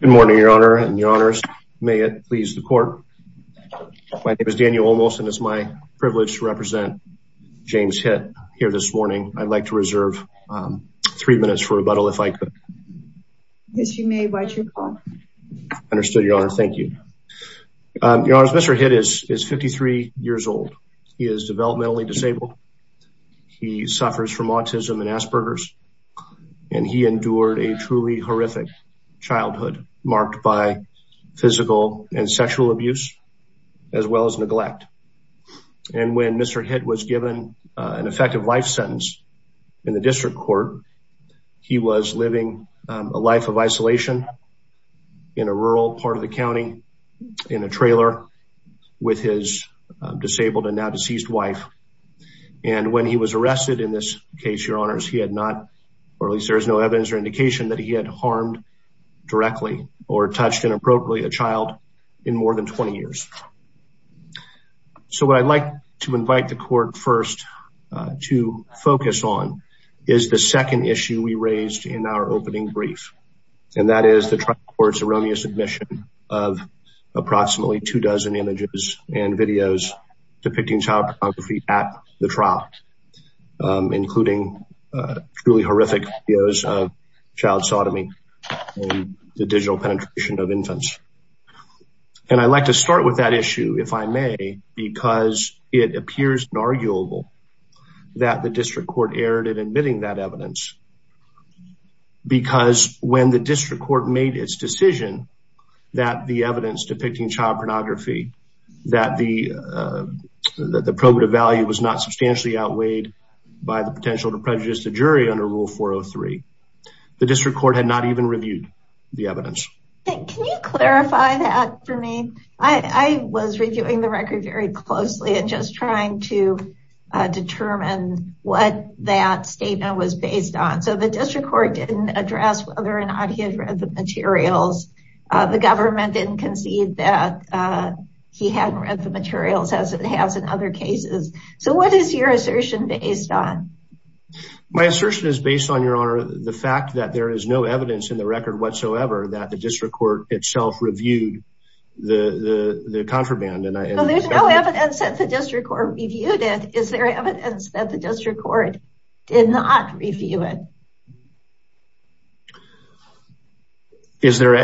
Good morning your honor and your honors. May it please the court. My name is Daniel Olmos and it's my privilege to represent James Hitt here this morning. I'd like to reserve three minutes for rebuttal if I could. Yes you may, why'd you call? Understood your honor, thank you. Your honors, Mr. Hitt is 53 years old. He is developmentally disabled. He suffers from autism and Asperger's and he endured a truly horrific childhood marked by physical and sexual abuse as well as neglect. And when Mr. Hitt was given an effective life sentence in the district court, he was living a life of isolation in a rural part of the county in a trailer with his disabled and now deceased wife. And when he was arrested in this case, your honors, he had not, or at least there's no evidence or indication that he had harmed directly or touched inappropriately a child in more than 20 years. So what I'd like to invite the court first to focus on is the second issue we raised in our opening brief. And that is the approximately two dozen images and videos depicting child pornography at the trial, including truly horrific videos of child sodomy and the digital penetration of infants. And I'd like to start with that issue, if I may, because it appears inarguable that the district court erred in admitting that evidence. Because when the district court made its decision that the evidence depicting child pornography, that the probative value was not substantially outweighed by the potential to prejudice the jury under Rule 403, the district court had not even reviewed the evidence. Can you clarify that for me? I was reviewing the record very closely and just trying to determine what that statement was based on. So the district court didn't address whether or not he had read the materials. The government didn't concede that he hadn't read the materials as it has in other cases. So what is your assertion based on? My assertion is based on, Your Honor, the fact that there is no evidence in the record whatsoever that the district court itself reviewed the contraband. There's no evidence that the district court reviewed it. Is there evidence that the district court did not review it? Is there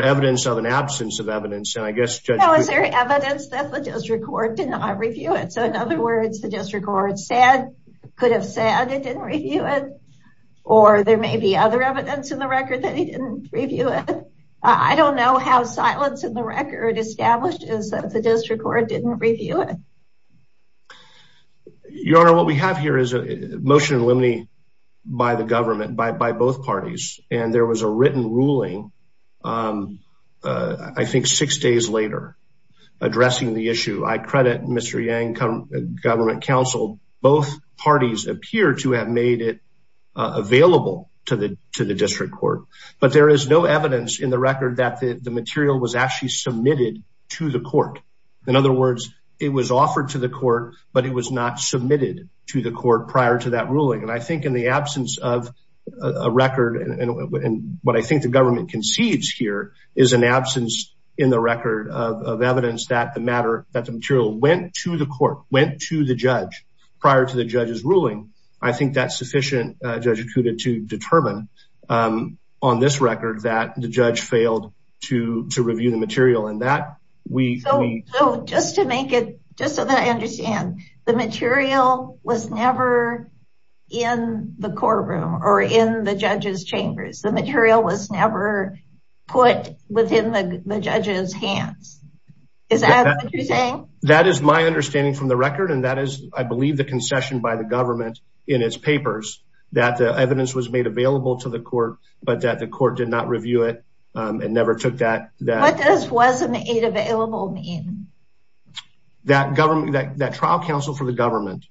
evidence of an absence of evidence? No, is there evidence that the district court did not review it? So in other words, the district court could have said it didn't review it, or there may be other evidence in the record that he didn't review it. I don't know how silence in the record establishes that the district court didn't review it. Your Honor, what we have here is a motion by the government by both parties, and there was a written ruling, I think six days later, addressing the issue. I credit Mr. Yang, government counsel. Both parties appear to have made it available to the district court, but there is no evidence in the record that the material was actually submitted to the court. In other words, it was offered to the court, but it was not submitted to the court prior to that ruling. And I think in the absence of a record, and what I think the government concedes here, is an absence in the record of evidence that the material went to the court, went to the judge prior to the judge's ruling. I think that's sufficient, Judge Acuda, to determine on this So just to make it, just so that I understand, the material was never in the courtroom or in the judge's chambers. The material was never put within the judge's hands. Is that what you're saying? That is my understanding from the record, and that is, I believe, the concession by the government in its papers, that the evidence was made available to the court, but that the court did not review it and never took that. What does wasn't it available mean? That trial counsel for the government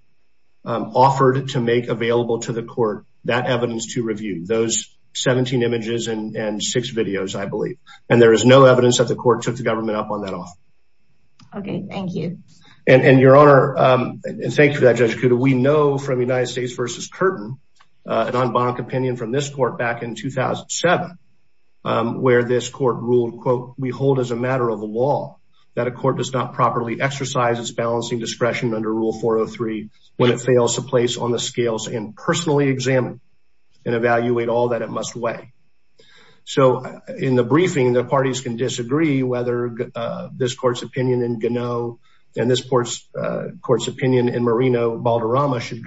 offered to make available to the court that evidence to review those 17 images and six videos, I believe. And there is no evidence that the court took the government up on that offer. Okay, thank you. And your honor, and thank you for that, Judge Acuda, we know from United in 2007 where this court ruled, quote, we hold as a matter of law that a court does not properly exercise its balancing discretion under Rule 403 when it fails to place on the scales and personally examine and evaluate all that it must weigh. So in the briefing, the parties can disagree whether this court's opinion in Gano and this court's opinion in Marino-Balderrama should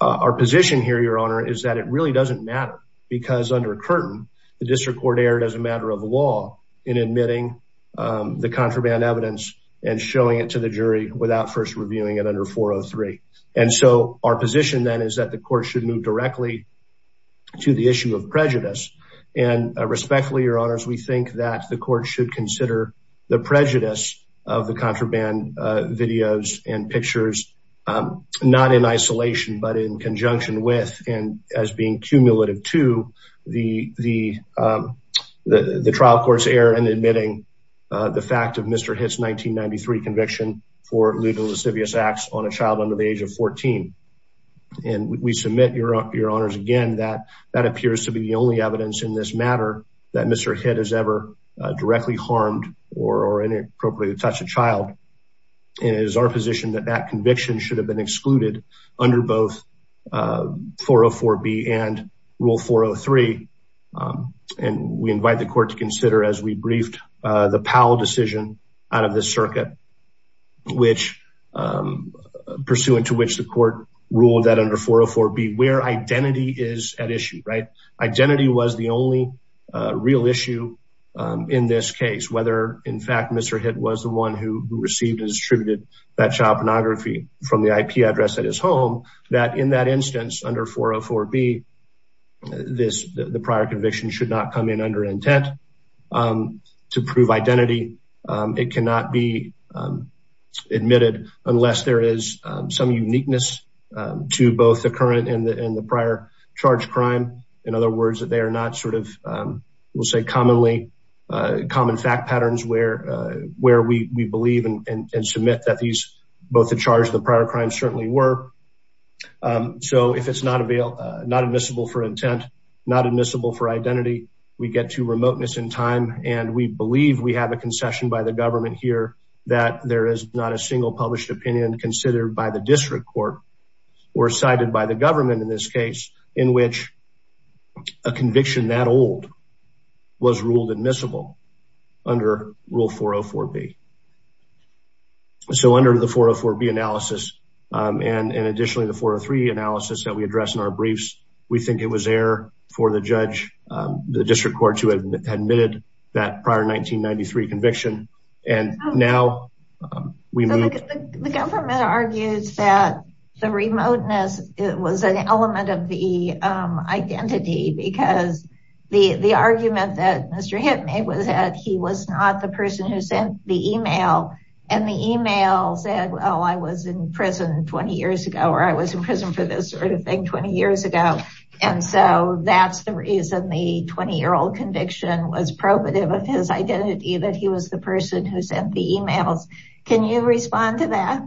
our position here, your honor, is that it really doesn't matter because under Curtin, the district court erred as a matter of law in admitting the contraband evidence and showing it to the jury without first reviewing it under 403. And so our position then is that the court should move directly to the issue of prejudice. And respectfully, your honors, we think that the court should consider the prejudice of the contraband videos and pictures, not in isolation, but in conjunction with and as being cumulative to the trial court's error in admitting the fact of Mr. Hitt's 1993 conviction for lewd and lascivious acts on a child under the age of 14. And we submit, your honors, again, that that appears to be the only evidence in this matter that Mr. Hitt has ever directly harmed or inappropriately touched a child. And it is our position that that conviction should have been excluded under both 404B and rule 403. And we invite the court to consider as we briefed the Powell decision out of the circuit, which pursuant to which the court ruled that under 404B where identity is at issue, right? Identity was the only real issue in this case, whether in fact, Mr. Hitt was the one who received and distributed that child pornography from the IP address at his home, that in that instance under 404B, this, the prior conviction should not come in under intent to prove identity. It cannot be admitted unless there is some uniqueness to both the current and the prior charge crime. In other words, that they are not sort of, we'll say commonly, common fact patterns where we believe and submit that these, both the charge and the prior crime certainly were. So if it's not available, not admissible for intent, not admissible for identity, we get to remoteness in time and we believe we have a concession by the government here that there is not a single published opinion considered by the district court or cited by the government in this case in which a conviction that old was ruled admissible under rule 404B. So under the 404B analysis and additionally the 403 analysis that we address in our briefs, we think it was there for the judge, the district court to admit that prior 1993 conviction and now we move. The government argues that the remoteness was an element of the identity because the argument that Mr. Hitt made was that he was not the person who sent the email and the email said, oh, I was in prison 20 years ago, or I was in prison for this sort of thing 20 years ago. And so that's the reason the 20-year-old conviction was probative of his was the person who sent the emails. Can you respond to that?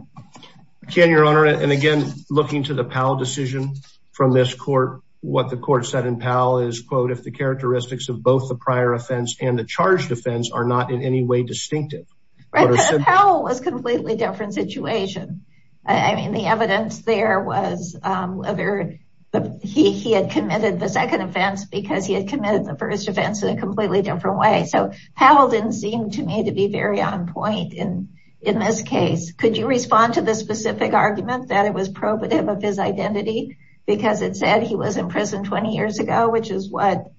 Can your honor and again looking to the Powell decision from this court, what the court said in Powell is quote, if the characteristics of both the prior offense and the charge defense are not in any way distinctive. Powell was a completely different situation. I mean the evidence there was whether he had committed the second offense because he had committed the first offense in a completely different way. So Powell didn't seem to me to be very on point in this case. Could you respond to the specific argument that it was probative of his identity because it said he was in prison 20 years ago, which is what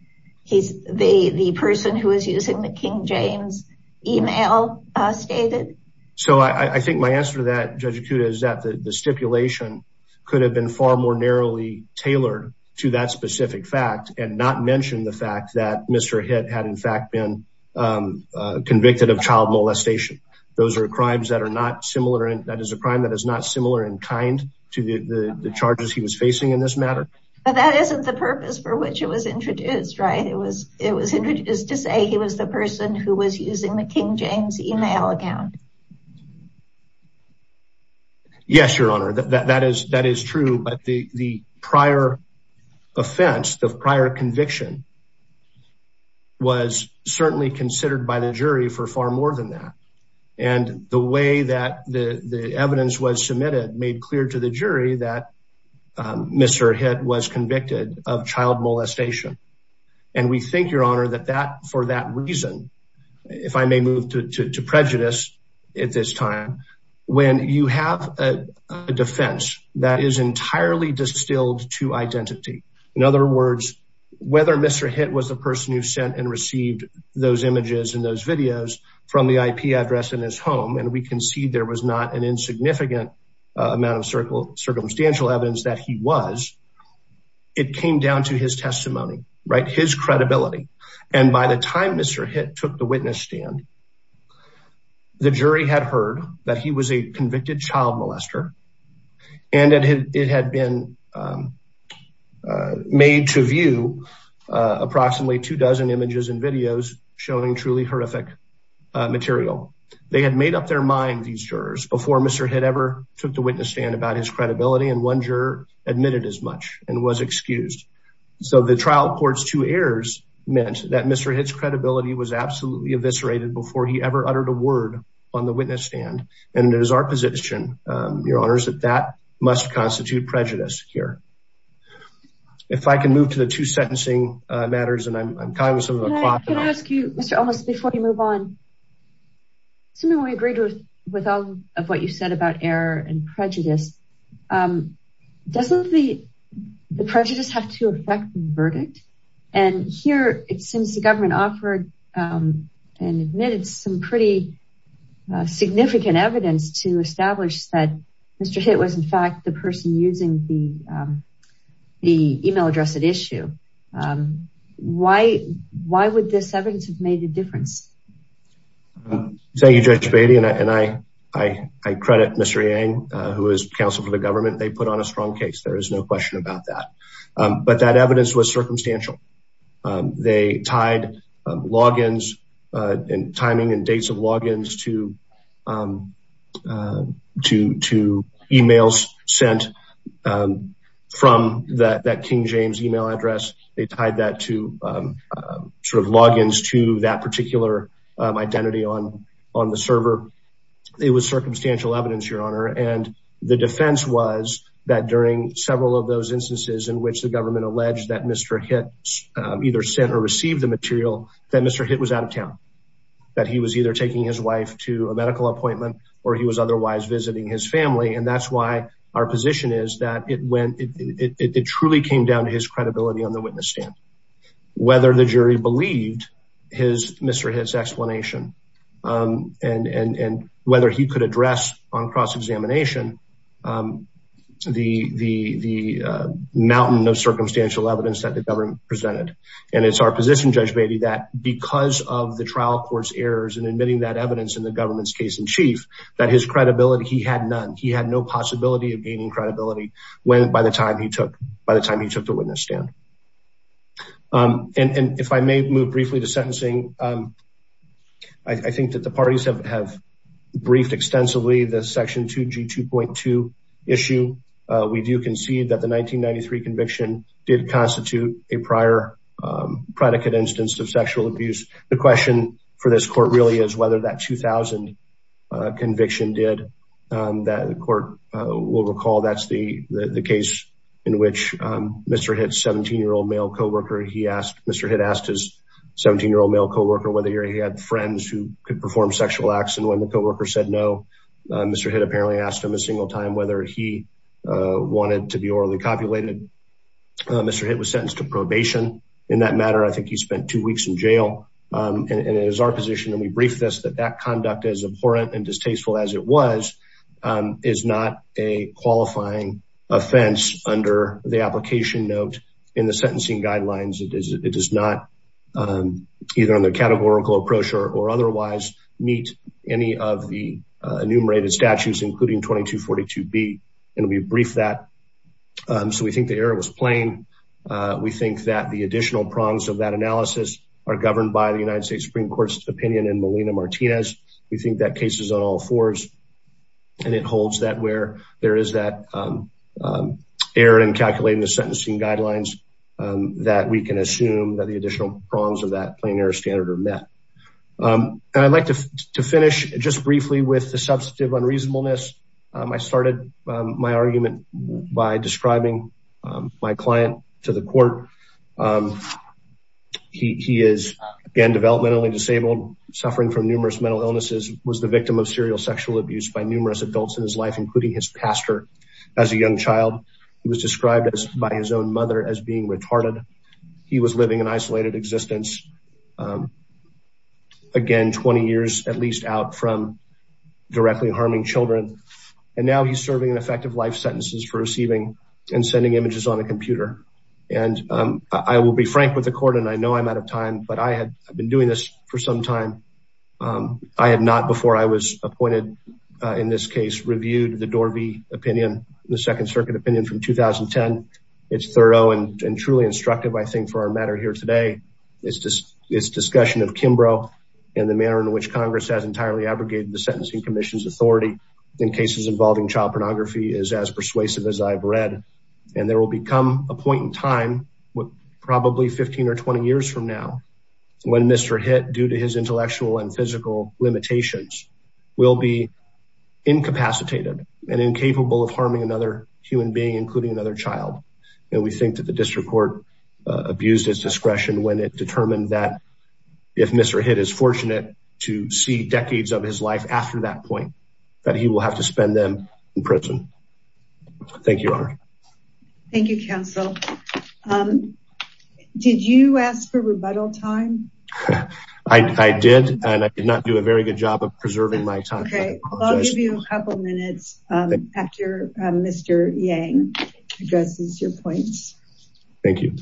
he's the person who is using the King James email stated? So I think my answer to that Judge Akuda is that the stipulation could have been far more narrowly tailored to that specific fact and not mention the fact that Mr. Hitt had in fact been convicted of child molestation. Those are crimes that are not similar and that is a crime that is not similar in kind to the charges he was facing in this matter. But that isn't the purpose for which it was introduced, right? It was introduced to say he was the person who was using the King James email account. Yes, Your Honor, that is true. But the prior offense, the prior conviction was certainly considered by the jury for far more than that. And the way that the evidence was submitted made clear to the jury that Mr. Hitt was convicted of child molestation. And we think, for that reason, if I may move to prejudice at this time, when you have a defense that is entirely distilled to identity. In other words, whether Mr. Hitt was the person who sent and received those images and those videos from the IP address in his home, and we can see there was not an insignificant amount of circumstantial evidence that he was, it came down to his credibility. And by the time Mr. Hitt took the witness stand, the jury had heard that he was a convicted child molester. And it had been made to view approximately two dozen images and videos showing truly horrific material. They had made up their mind, these jurors, before Mr. Hitt ever took the witness stand about his credibility. And one juror admitted as much and was excused. So the trial court's two errors meant that Mr. Hitt's credibility was absolutely eviscerated before he ever uttered a word on the witness stand. And it is our position, your honors, that that must constitute prejudice here. If I can move to the two sentencing matters, and I'm coming to some of the questions. Can I ask you, Mr. Olmos, before you move on, assuming we agreed with all of what you said about error and prejudice, doesn't the prejudice have to affect the verdict? And here, it seems the government offered and admitted some pretty significant evidence to establish that Mr. Hitt was, in fact, the person using the email address at issue. Why would this evidence have made a difference? Thank you, Judge Beatty. And I credit Mr. Yang, who is counsel for the government. They put on a strong case. There is no question about that. But that evidence was circumstantial. They tied logins and timing and dates of logins to emails sent from that King James email address. They tied that to logins to that particular identity on the server. It was circumstantial evidence, your honor. And the defense was that during several of those instances in which the government alleged that Mr. Hitt either sent or received the material, that Mr. Hitt was out of town. That he was either taking his wife to a medical appointment, or he was otherwise visiting his family. And that's why our position is that it truly came down to his credibility on the witness stand. Whether the jury believed Mr. Hitt's explanation, and whether he could address on cross-examination the mountain of circumstantial evidence that the government presented. And it's our position, Judge Beatty, that because of the trial court's errors in admitting that he had none, he had no possibility of gaining credibility by the time he took the witness stand. And if I may move briefly to sentencing, I think that the parties have briefed extensively the section 2G2.2 issue. We do concede that the 1993 conviction did constitute a prior predicate instance of sexual abuse. The question for this court really is whether that 2000 conviction did that. The court will recall that's the case in which Mr. Hitt's 17-year-old male co-worker, he asked, Mr. Hitt asked his 17-year-old male co-worker whether he had friends who could perform sexual acts. And when the co-worker said no, Mr. Hitt apparently asked him a single time whether he wanted to be orally copulated. Mr. Hitt was sentenced to probation. In that matter, I think he spent two weeks in jail. And it is our position, and we briefed this, that that conduct as abhorrent and distasteful as it was, is not a qualifying offense under the application note in the sentencing guidelines. It does not, either on the categorical approach or otherwise, meet any of the enumerated statutes, including 2242B. And we briefed that. So we think the error was plain. We think that the additional prongs of that analysis are governed by the United States Supreme Court's opinion in Molina-Martinez. We think that case is on all fours. And it holds that where there is that error in calculating the sentencing guidelines that we can assume that the additional prongs of that plain error standard are met. And I'd like to finish just briefly with the substantive unreasonableness. I started my argument by describing my client to the court. He is, again, developmentally disabled, suffering from numerous mental illnesses, was the victim of serial sexual abuse by numerous adults in his life, including his pastor. As a young child, he was described by his own mother as being retarded. He was living an isolated existence, again, 20 years at least out from directly harming children. And now he's serving an effective life sentences for receiving and sending images on a computer. And I will be frank with the court, and I know I'm out of time, but I had been doing this for some time. I had not before I was appointed in this case, reviewed the Dorvey opinion, the second circuit opinion from 2010. It's thorough and truly instructive, I think, for our matter here today. It's discussion of Kimbrough and the manner in which Congress has entirely abrogated the Sentencing Commission's child pornography is as persuasive as I've read. And there will become a point in time, probably 15 or 20 years from now, when Mr. Hitt, due to his intellectual and physical limitations, will be incapacitated and incapable of harming another human being, including another child. And we think that the district court abused its discretion when it determined that if Mr. Hitt is fortunate to see decades of his life after that point, that he will have to spend them in prison. Thank you, Your Honor. Thank you, counsel. Did you ask for rebuttal time? I did, and I did not do a very good job of preserving my time. Okay, I'll give you a couple minutes after Mr. Yang addresses your points. Thank you.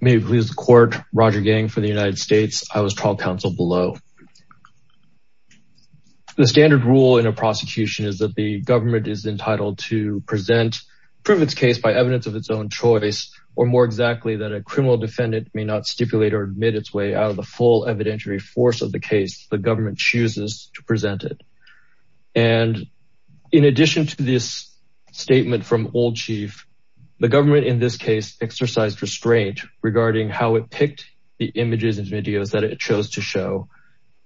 May it please the court, Roger Yang for the United States. I was trial counsel below. The standard rule in a prosecution is that the government is entitled to present, prove its case by evidence of its own choice, or more exactly, that a criminal defendant may not stipulate or admit its way out of the full evidentiary force of the case the government chooses to present it. And in addition to this statement from Old Chief, the government in this case exercised restraint regarding how it picked the images and videos that it chose to show,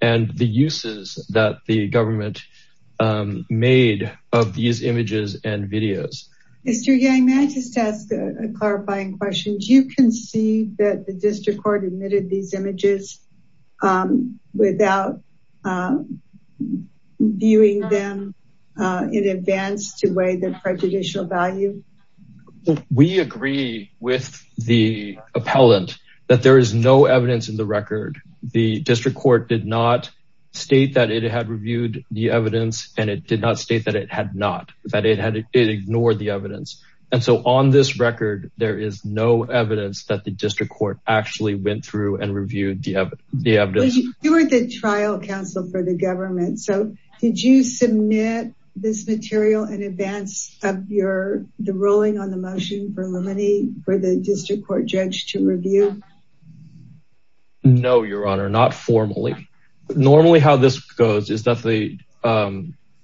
and the uses that the government made of these images and videos. Mr. Yang, may I just ask a clarifying question? Do you concede that the district court admitted these images without viewing them in advance to weigh the prejudicial value? We agree with the appellant that there is no evidence in the record. The district court did not state that it had reviewed the evidence, and it did not state that it had not, that it ignored the evidence. And so on this record, there is no evidence that the district court actually went through and reviewed the evidence. You were the trial counsel for the government, so did you rule on the motion for the district court judge to review? No, Your Honor, not formally. Normally how this goes is that the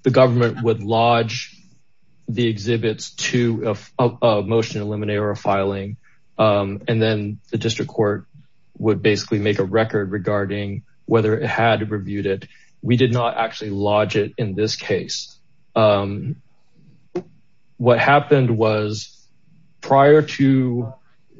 government would lodge the exhibits to a motion to eliminate or filing, and then the district court would basically make a record regarding whether it had reviewed it. We did not actually lodge it in this case. What happened was prior to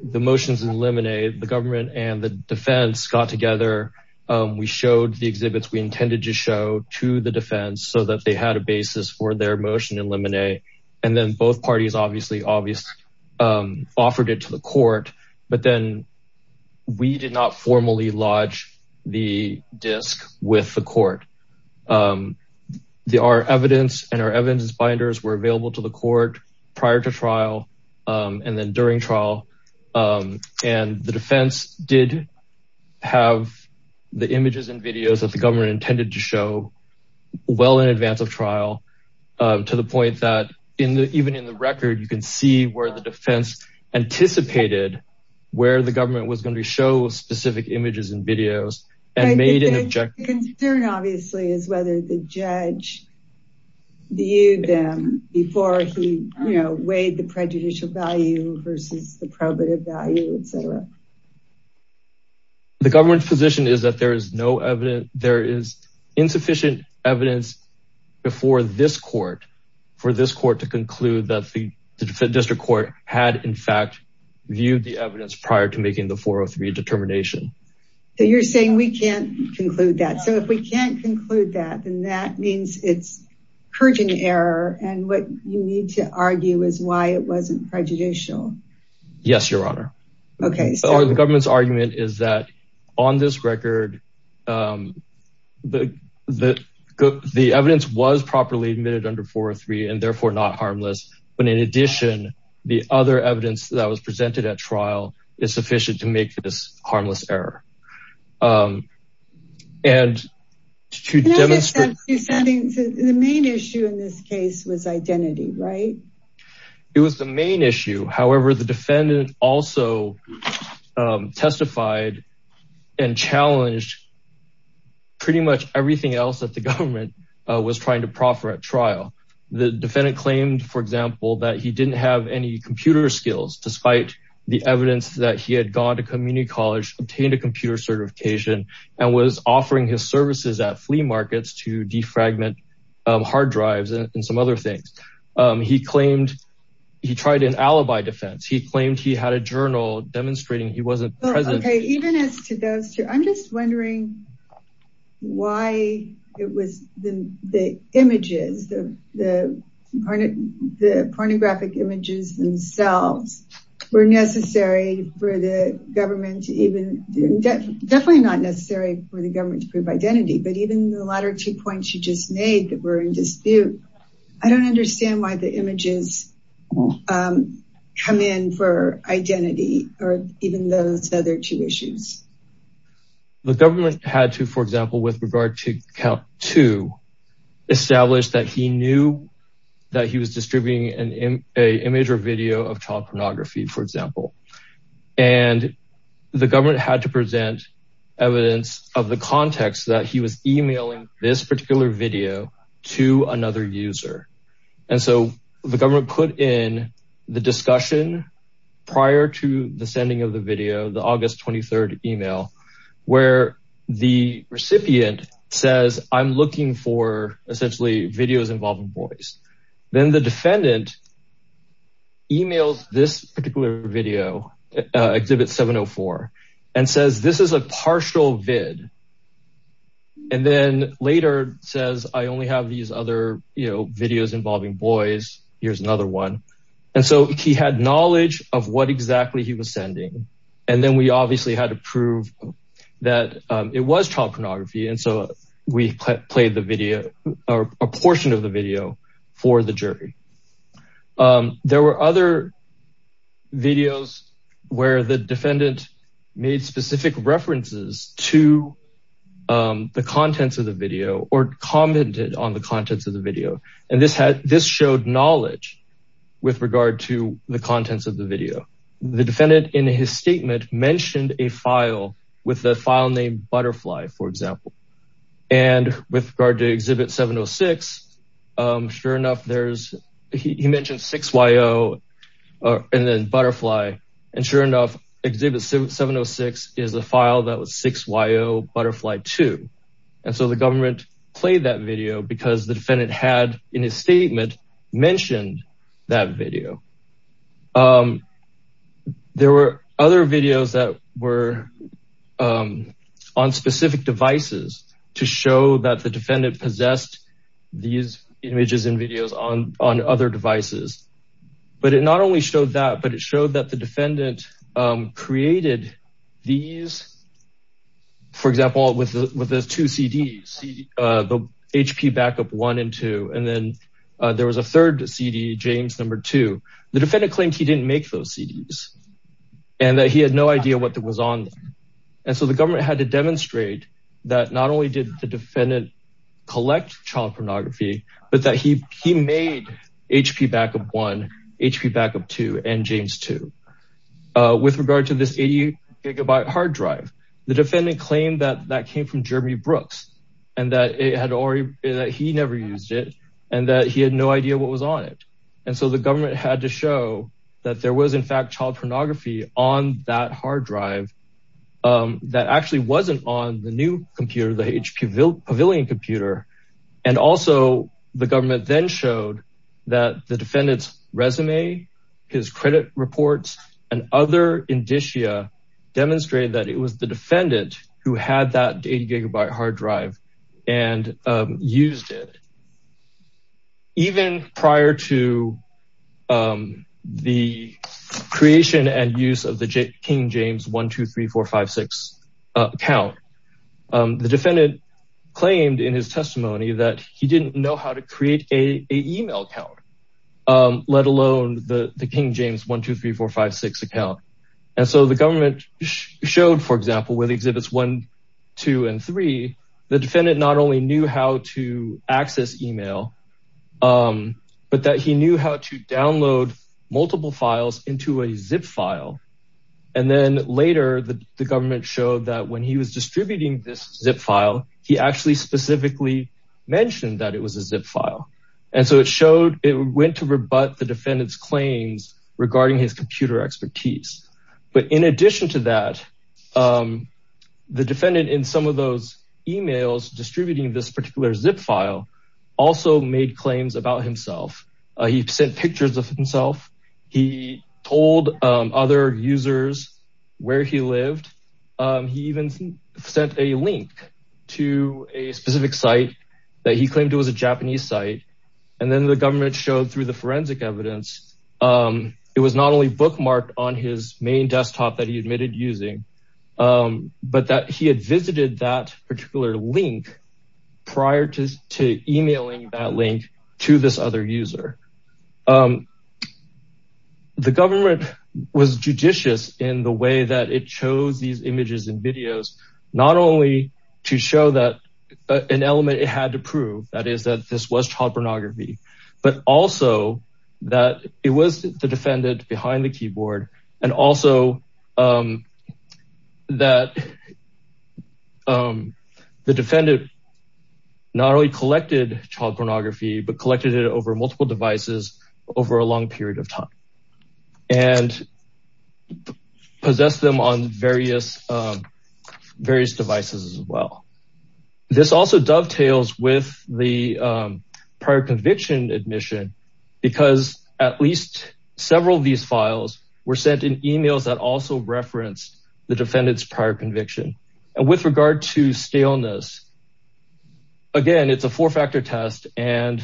the motions eliminated, the government and the defense got together. We showed the exhibits we intended to show to the defense so that they had a basis for their motion eliminate. And then both parties obviously offered it to the court, but then we did not formally lodge the disk with the court. Our evidence and our evidence binders were available to the court prior to trial and then during trial. And the defense did have the images and videos that the government intended to show well in advance of trial to the point that even in the record, you can see where the defense anticipated where the government was going to show specific images and videos and made an objection. The concern obviously is whether the judge viewed them before he weighed the prejudicial value versus the probative value, etc. The government's position is that there is insufficient evidence before this court for this court to conclude that the district court had in fact viewed the evidence prior to trial. So you're saying we can't conclude that. So if we can't conclude that, then that means it's purging error. And what you need to argue is why it wasn't prejudicial. Yes, your honor. The government's argument is that on this record, the evidence was properly admitted under 403 and therefore not harmless. But in addition, the other evidence that was presented at trial is sufficient to make this harmless error. And to demonstrate... The main issue in this case was identity, right? It was the main issue. However, the defendant also testified and challenged pretty much everything else that the government was trying to proffer at trial. The defendant claimed, for example, that he didn't have any computer skills despite the evidence that he had gone to community college, obtained a computer certification, and was offering his services at flea markets to defragment hard drives and some other things. He claimed he tried an alibi defense. He claimed he had a journal demonstrating he wasn't present. Okay, even as to those two, I'm just wondering why it was the images, the pornographic images themselves were necessary for the government to even... Definitely not necessary for the government to prove identity, but even the latter two points you just made that were in dispute, I don't understand why the images come in for identity or even those other two issues. The government had to, for example, with regard to count two, establish that he knew that he was distributing an image or video of child pornography, for example. The government had to present evidence of the context that he was emailing this particular video to another user. The government put in the discussion prior to the sending of the video, the August 23rd email, where the recipient says, I'm looking for essentially videos involving boys. Then the defendant emails this particular video, exhibit 704, and says, this is a partial vid. And then later says, I only have these other videos involving boys. Here's another one. And so he had knowledge of what exactly he was sending. And then we obviously had to prove that it was child pornography. And so we played the video or a portion of the video for the jury. There were other videos where the defendant made specific references to the contents of the video or commented on the contents of the video. And this showed knowledge with regard to the contents of the video. The defendant in his statement mentioned a file with the file name Butterfly, for example. And with regard to exhibit 706, sure enough, he mentioned 6YO and then Butterfly. And sure enough, exhibit 706 is a file that was 6YO Butterfly 2. And so the government played that video because the defendant had, in his statement, mentioned that video. There were other videos that were on specific devices to show that the defendant possessed these images and videos on other devices. But it not only showed that, but it two CDs, the HP Backup 1 and 2. And then there was a third CD, James No. 2. The defendant claimed he didn't make those CDs and that he had no idea what was on them. And so the government had to demonstrate that not only did the defendant collect child pornography, but that he made HP Backup 1, HP Backup 2, and James 2. With regard to this 80 gigabyte hard drive, the defendant claimed that that came from Jeremy Brooks, and that he never used it, and that he had no idea what was on it. And so the government had to show that there was, in fact, child pornography on that hard drive that actually wasn't on the new computer, the HP Pavilion computer. And also, the government then showed that the defendant's resume, his credit reports, and other indicia demonstrated that it was the defendant who had that 80 gigabyte hard drive and used it. Even prior to the creation and use of the King James 123456 account, the defendant claimed in his testimony that he didn't know how to create a email account, let alone the King James 123456 account. And so the government showed, for example, with Exhibits 1, 2, and 3, the defendant not only knew how to access email, but that he knew how to download multiple files into a zip file. And then later, the government showed that when he was distributing this zip file, he actually specifically mentioned that it was a zip file. And so it went to rebut the defendant's claims regarding his computer expertise. But in addition to that, the defendant in some of those emails distributing this particular zip file also made claims about himself. He sent pictures of himself. He told other users where he lived. He even sent a link to a specific site that he claimed it was a Japanese site. And then the government showed through the forensic evidence, it was not only bookmarked on his main desktop that he admitted using, but that he had visited that particular link prior to emailing that link to this other user. The government was judicious in the way that it chose these images and videos, not only to show that an element it had to prove, that is that this was child pornography, but also that it was the defendant behind the keyboard. And also that the defendant not only collected child pornography, but collected it over multiple devices over a long period of time and possessed them on various devices as well. This also dovetails with the prior conviction admission, because at least several of these files were sent in emails that also referenced the defendant's prior conviction. And with regard to scaleness, again, it's a four-factor test and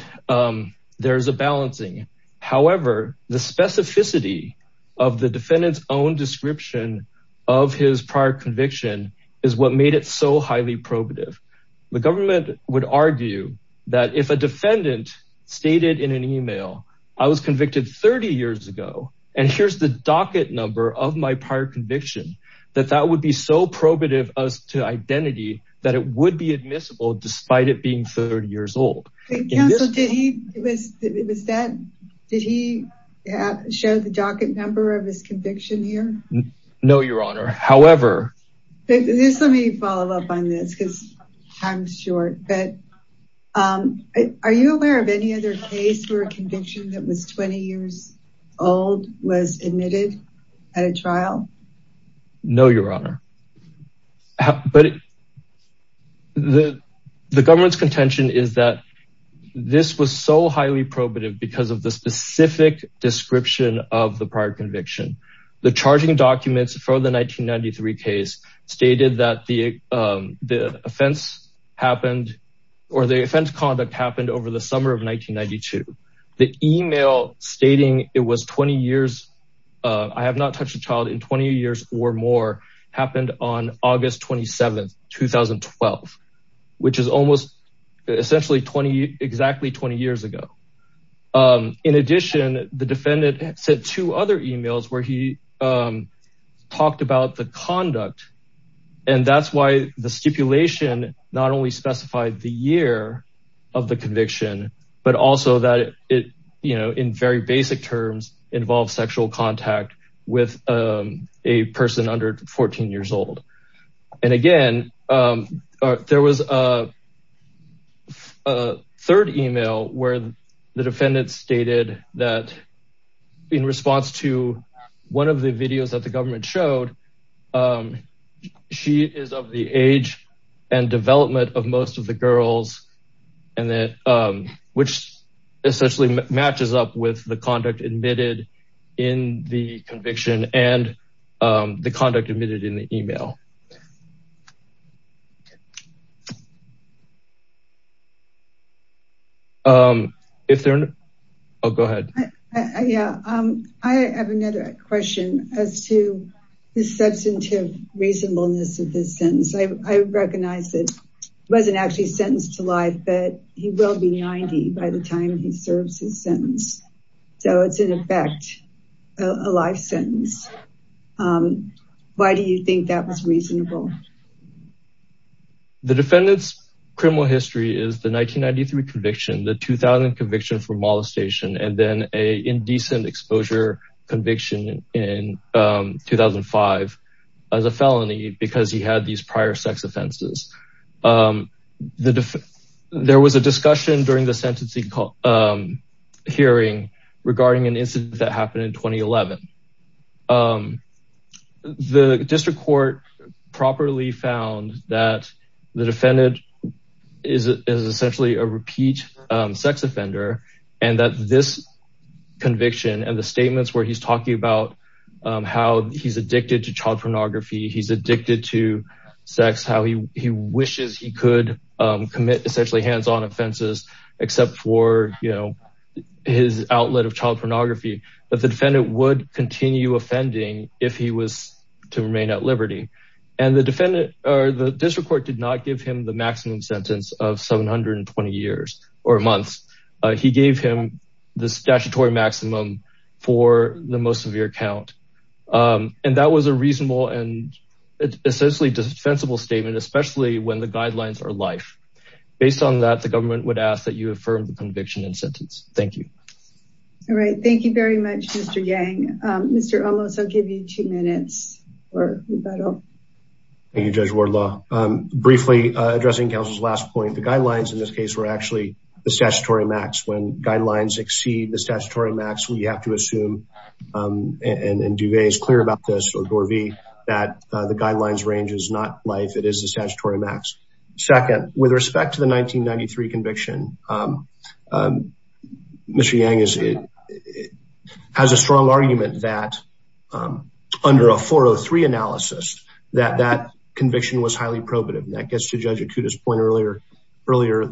there's a balancing. However, the specificity of the defendant's own description of his prior conviction is what made it so highly probative. The government would argue that if a defendant stated in an email, I was convicted 30 years ago, and here's the docket number of my prior conviction, that that would be so probative as to identity that it would be admissible despite it being 30 years ago. Are you aware of any other case where a conviction that was 20 years old was admitted at a trial? No, Your Honor. But the government's contention is that this was so highly probative because of the specific description of the prior conviction. The charging documents for the 1993 case stated that the offense happened or the offense conduct happened over the summer of 1992. The email stating it was 20 years, I have not touched a child in 20 years or more, happened on August 27th, 2012, which is almost essentially 20, exactly 20 years ago. In addition, the defendant sent two other emails where he talked about the conduct. And that's why the stipulation not only specified the year of the conviction, but also that it, in very basic terms, involves sexual contact with a person under 14 years old. And again, there was a third email where the defendant stated that in response to one of the videos that the government showed, she is of the age and development of most of the girls, and that, which essentially matches up with the conduct admitted in the conviction and the conduct admitted in the email. Oh, go ahead. Yeah, I have another question as to the substantive reasonableness of this sentence. I recognize that it wasn't actually sentenced to life, but he will be 90 by the time he serves his sentence. So it's in effect a life sentence. Why do you think that was reasonable? The defendant's criminal history is the 1993 conviction, the 2000 conviction for molestation, and then a indecent exposure conviction in 2005 as a felony because he had these prior sex offenses. There was a discussion during the sentencing hearing regarding an incident that happened in 2011. The district court properly found that the defendant is essentially a repeat sex offender, and that this conviction and the statements where he's talking about how he's addicted to child pornography, he's addicted to sex, how he wishes he could commit essentially hands-on offenses, except for his outlet of child pornography, that the defendant would continue offending if he was to remain at liberty. And the district court did not give him the maximum sentence of 720 years or months. He gave him the statutory maximum for the most severe count, and that was a reasonable and essentially defensible statement, especially when the guidelines are life. Based on that, the government would ask that you affirm the conviction and sentence. Thank you. All right, thank you very much, Mr. Yang. Mr. Olmos, I'll give you two minutes. Thank you, Judge Wardlaw. Briefly, addressing counsel's last point, the guidelines in this case were actually the statutory max. When guidelines exceed the statutory max, we have to assume, and Duvay is clear about this, or Dorvey, that the guidelines range is not life, it is the statutory max. Second, with respect to the 1993 conviction, Mr. Yang has a strong argument that under a 403 analysis, that that conviction was highly probative. And that gets to Judge Akuta's point earlier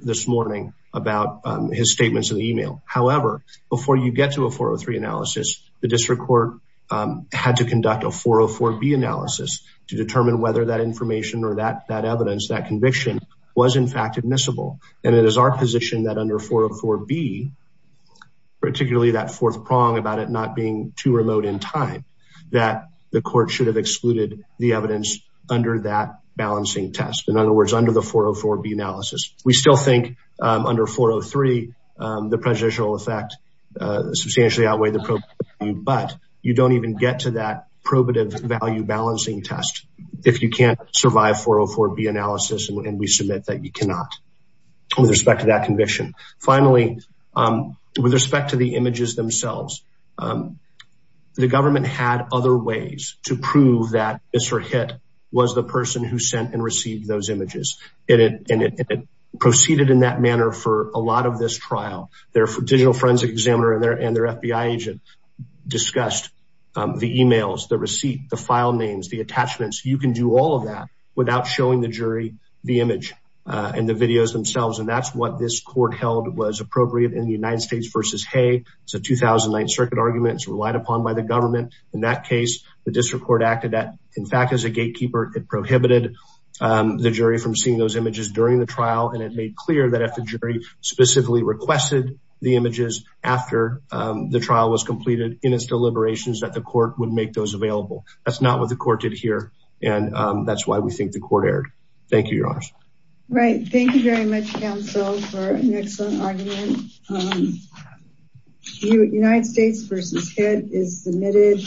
this morning about his statements in the email. However, before you get to a 403 analysis, the district court had to conduct a 404B analysis to determine whether that information or that evidence, that conviction, was in fact admissible. And it is our prong about it not being too remote in time, that the court should have excluded the evidence under that balancing test. In other words, under the 404B analysis. We still think, under 403, the prejudicial effect substantially outweighed the probative value, but you don't even get to that probative value balancing test if you can't survive 404B analysis and we submit that you cannot with respect to that conviction. Finally, with respect to the images themselves, the government had other ways to prove that Mr. Hitt was the person who sent and received those images. And it proceeded in that manner for a lot of this trial. Their digital forensic examiner and their FBI agent discussed the emails, the receipt, the file names, the attachments. You can do all that without showing the jury the image and the videos themselves. And that's what this court held was appropriate in the United States v. Hay. It's a 2009 circuit argument. It's relied upon by the government. In that case, the district court acted that, in fact, as a gatekeeper. It prohibited the jury from seeing those images during the trial. And it made clear that if the jury specifically requested the images after the trial was completed in its deliberations, that the court would make those available. That's not what the court did here. And that's why we think the court erred. Thank you, Your Honor. Right. Thank you very much, counsel, for an excellent argument. United States v. Hitt is submitted.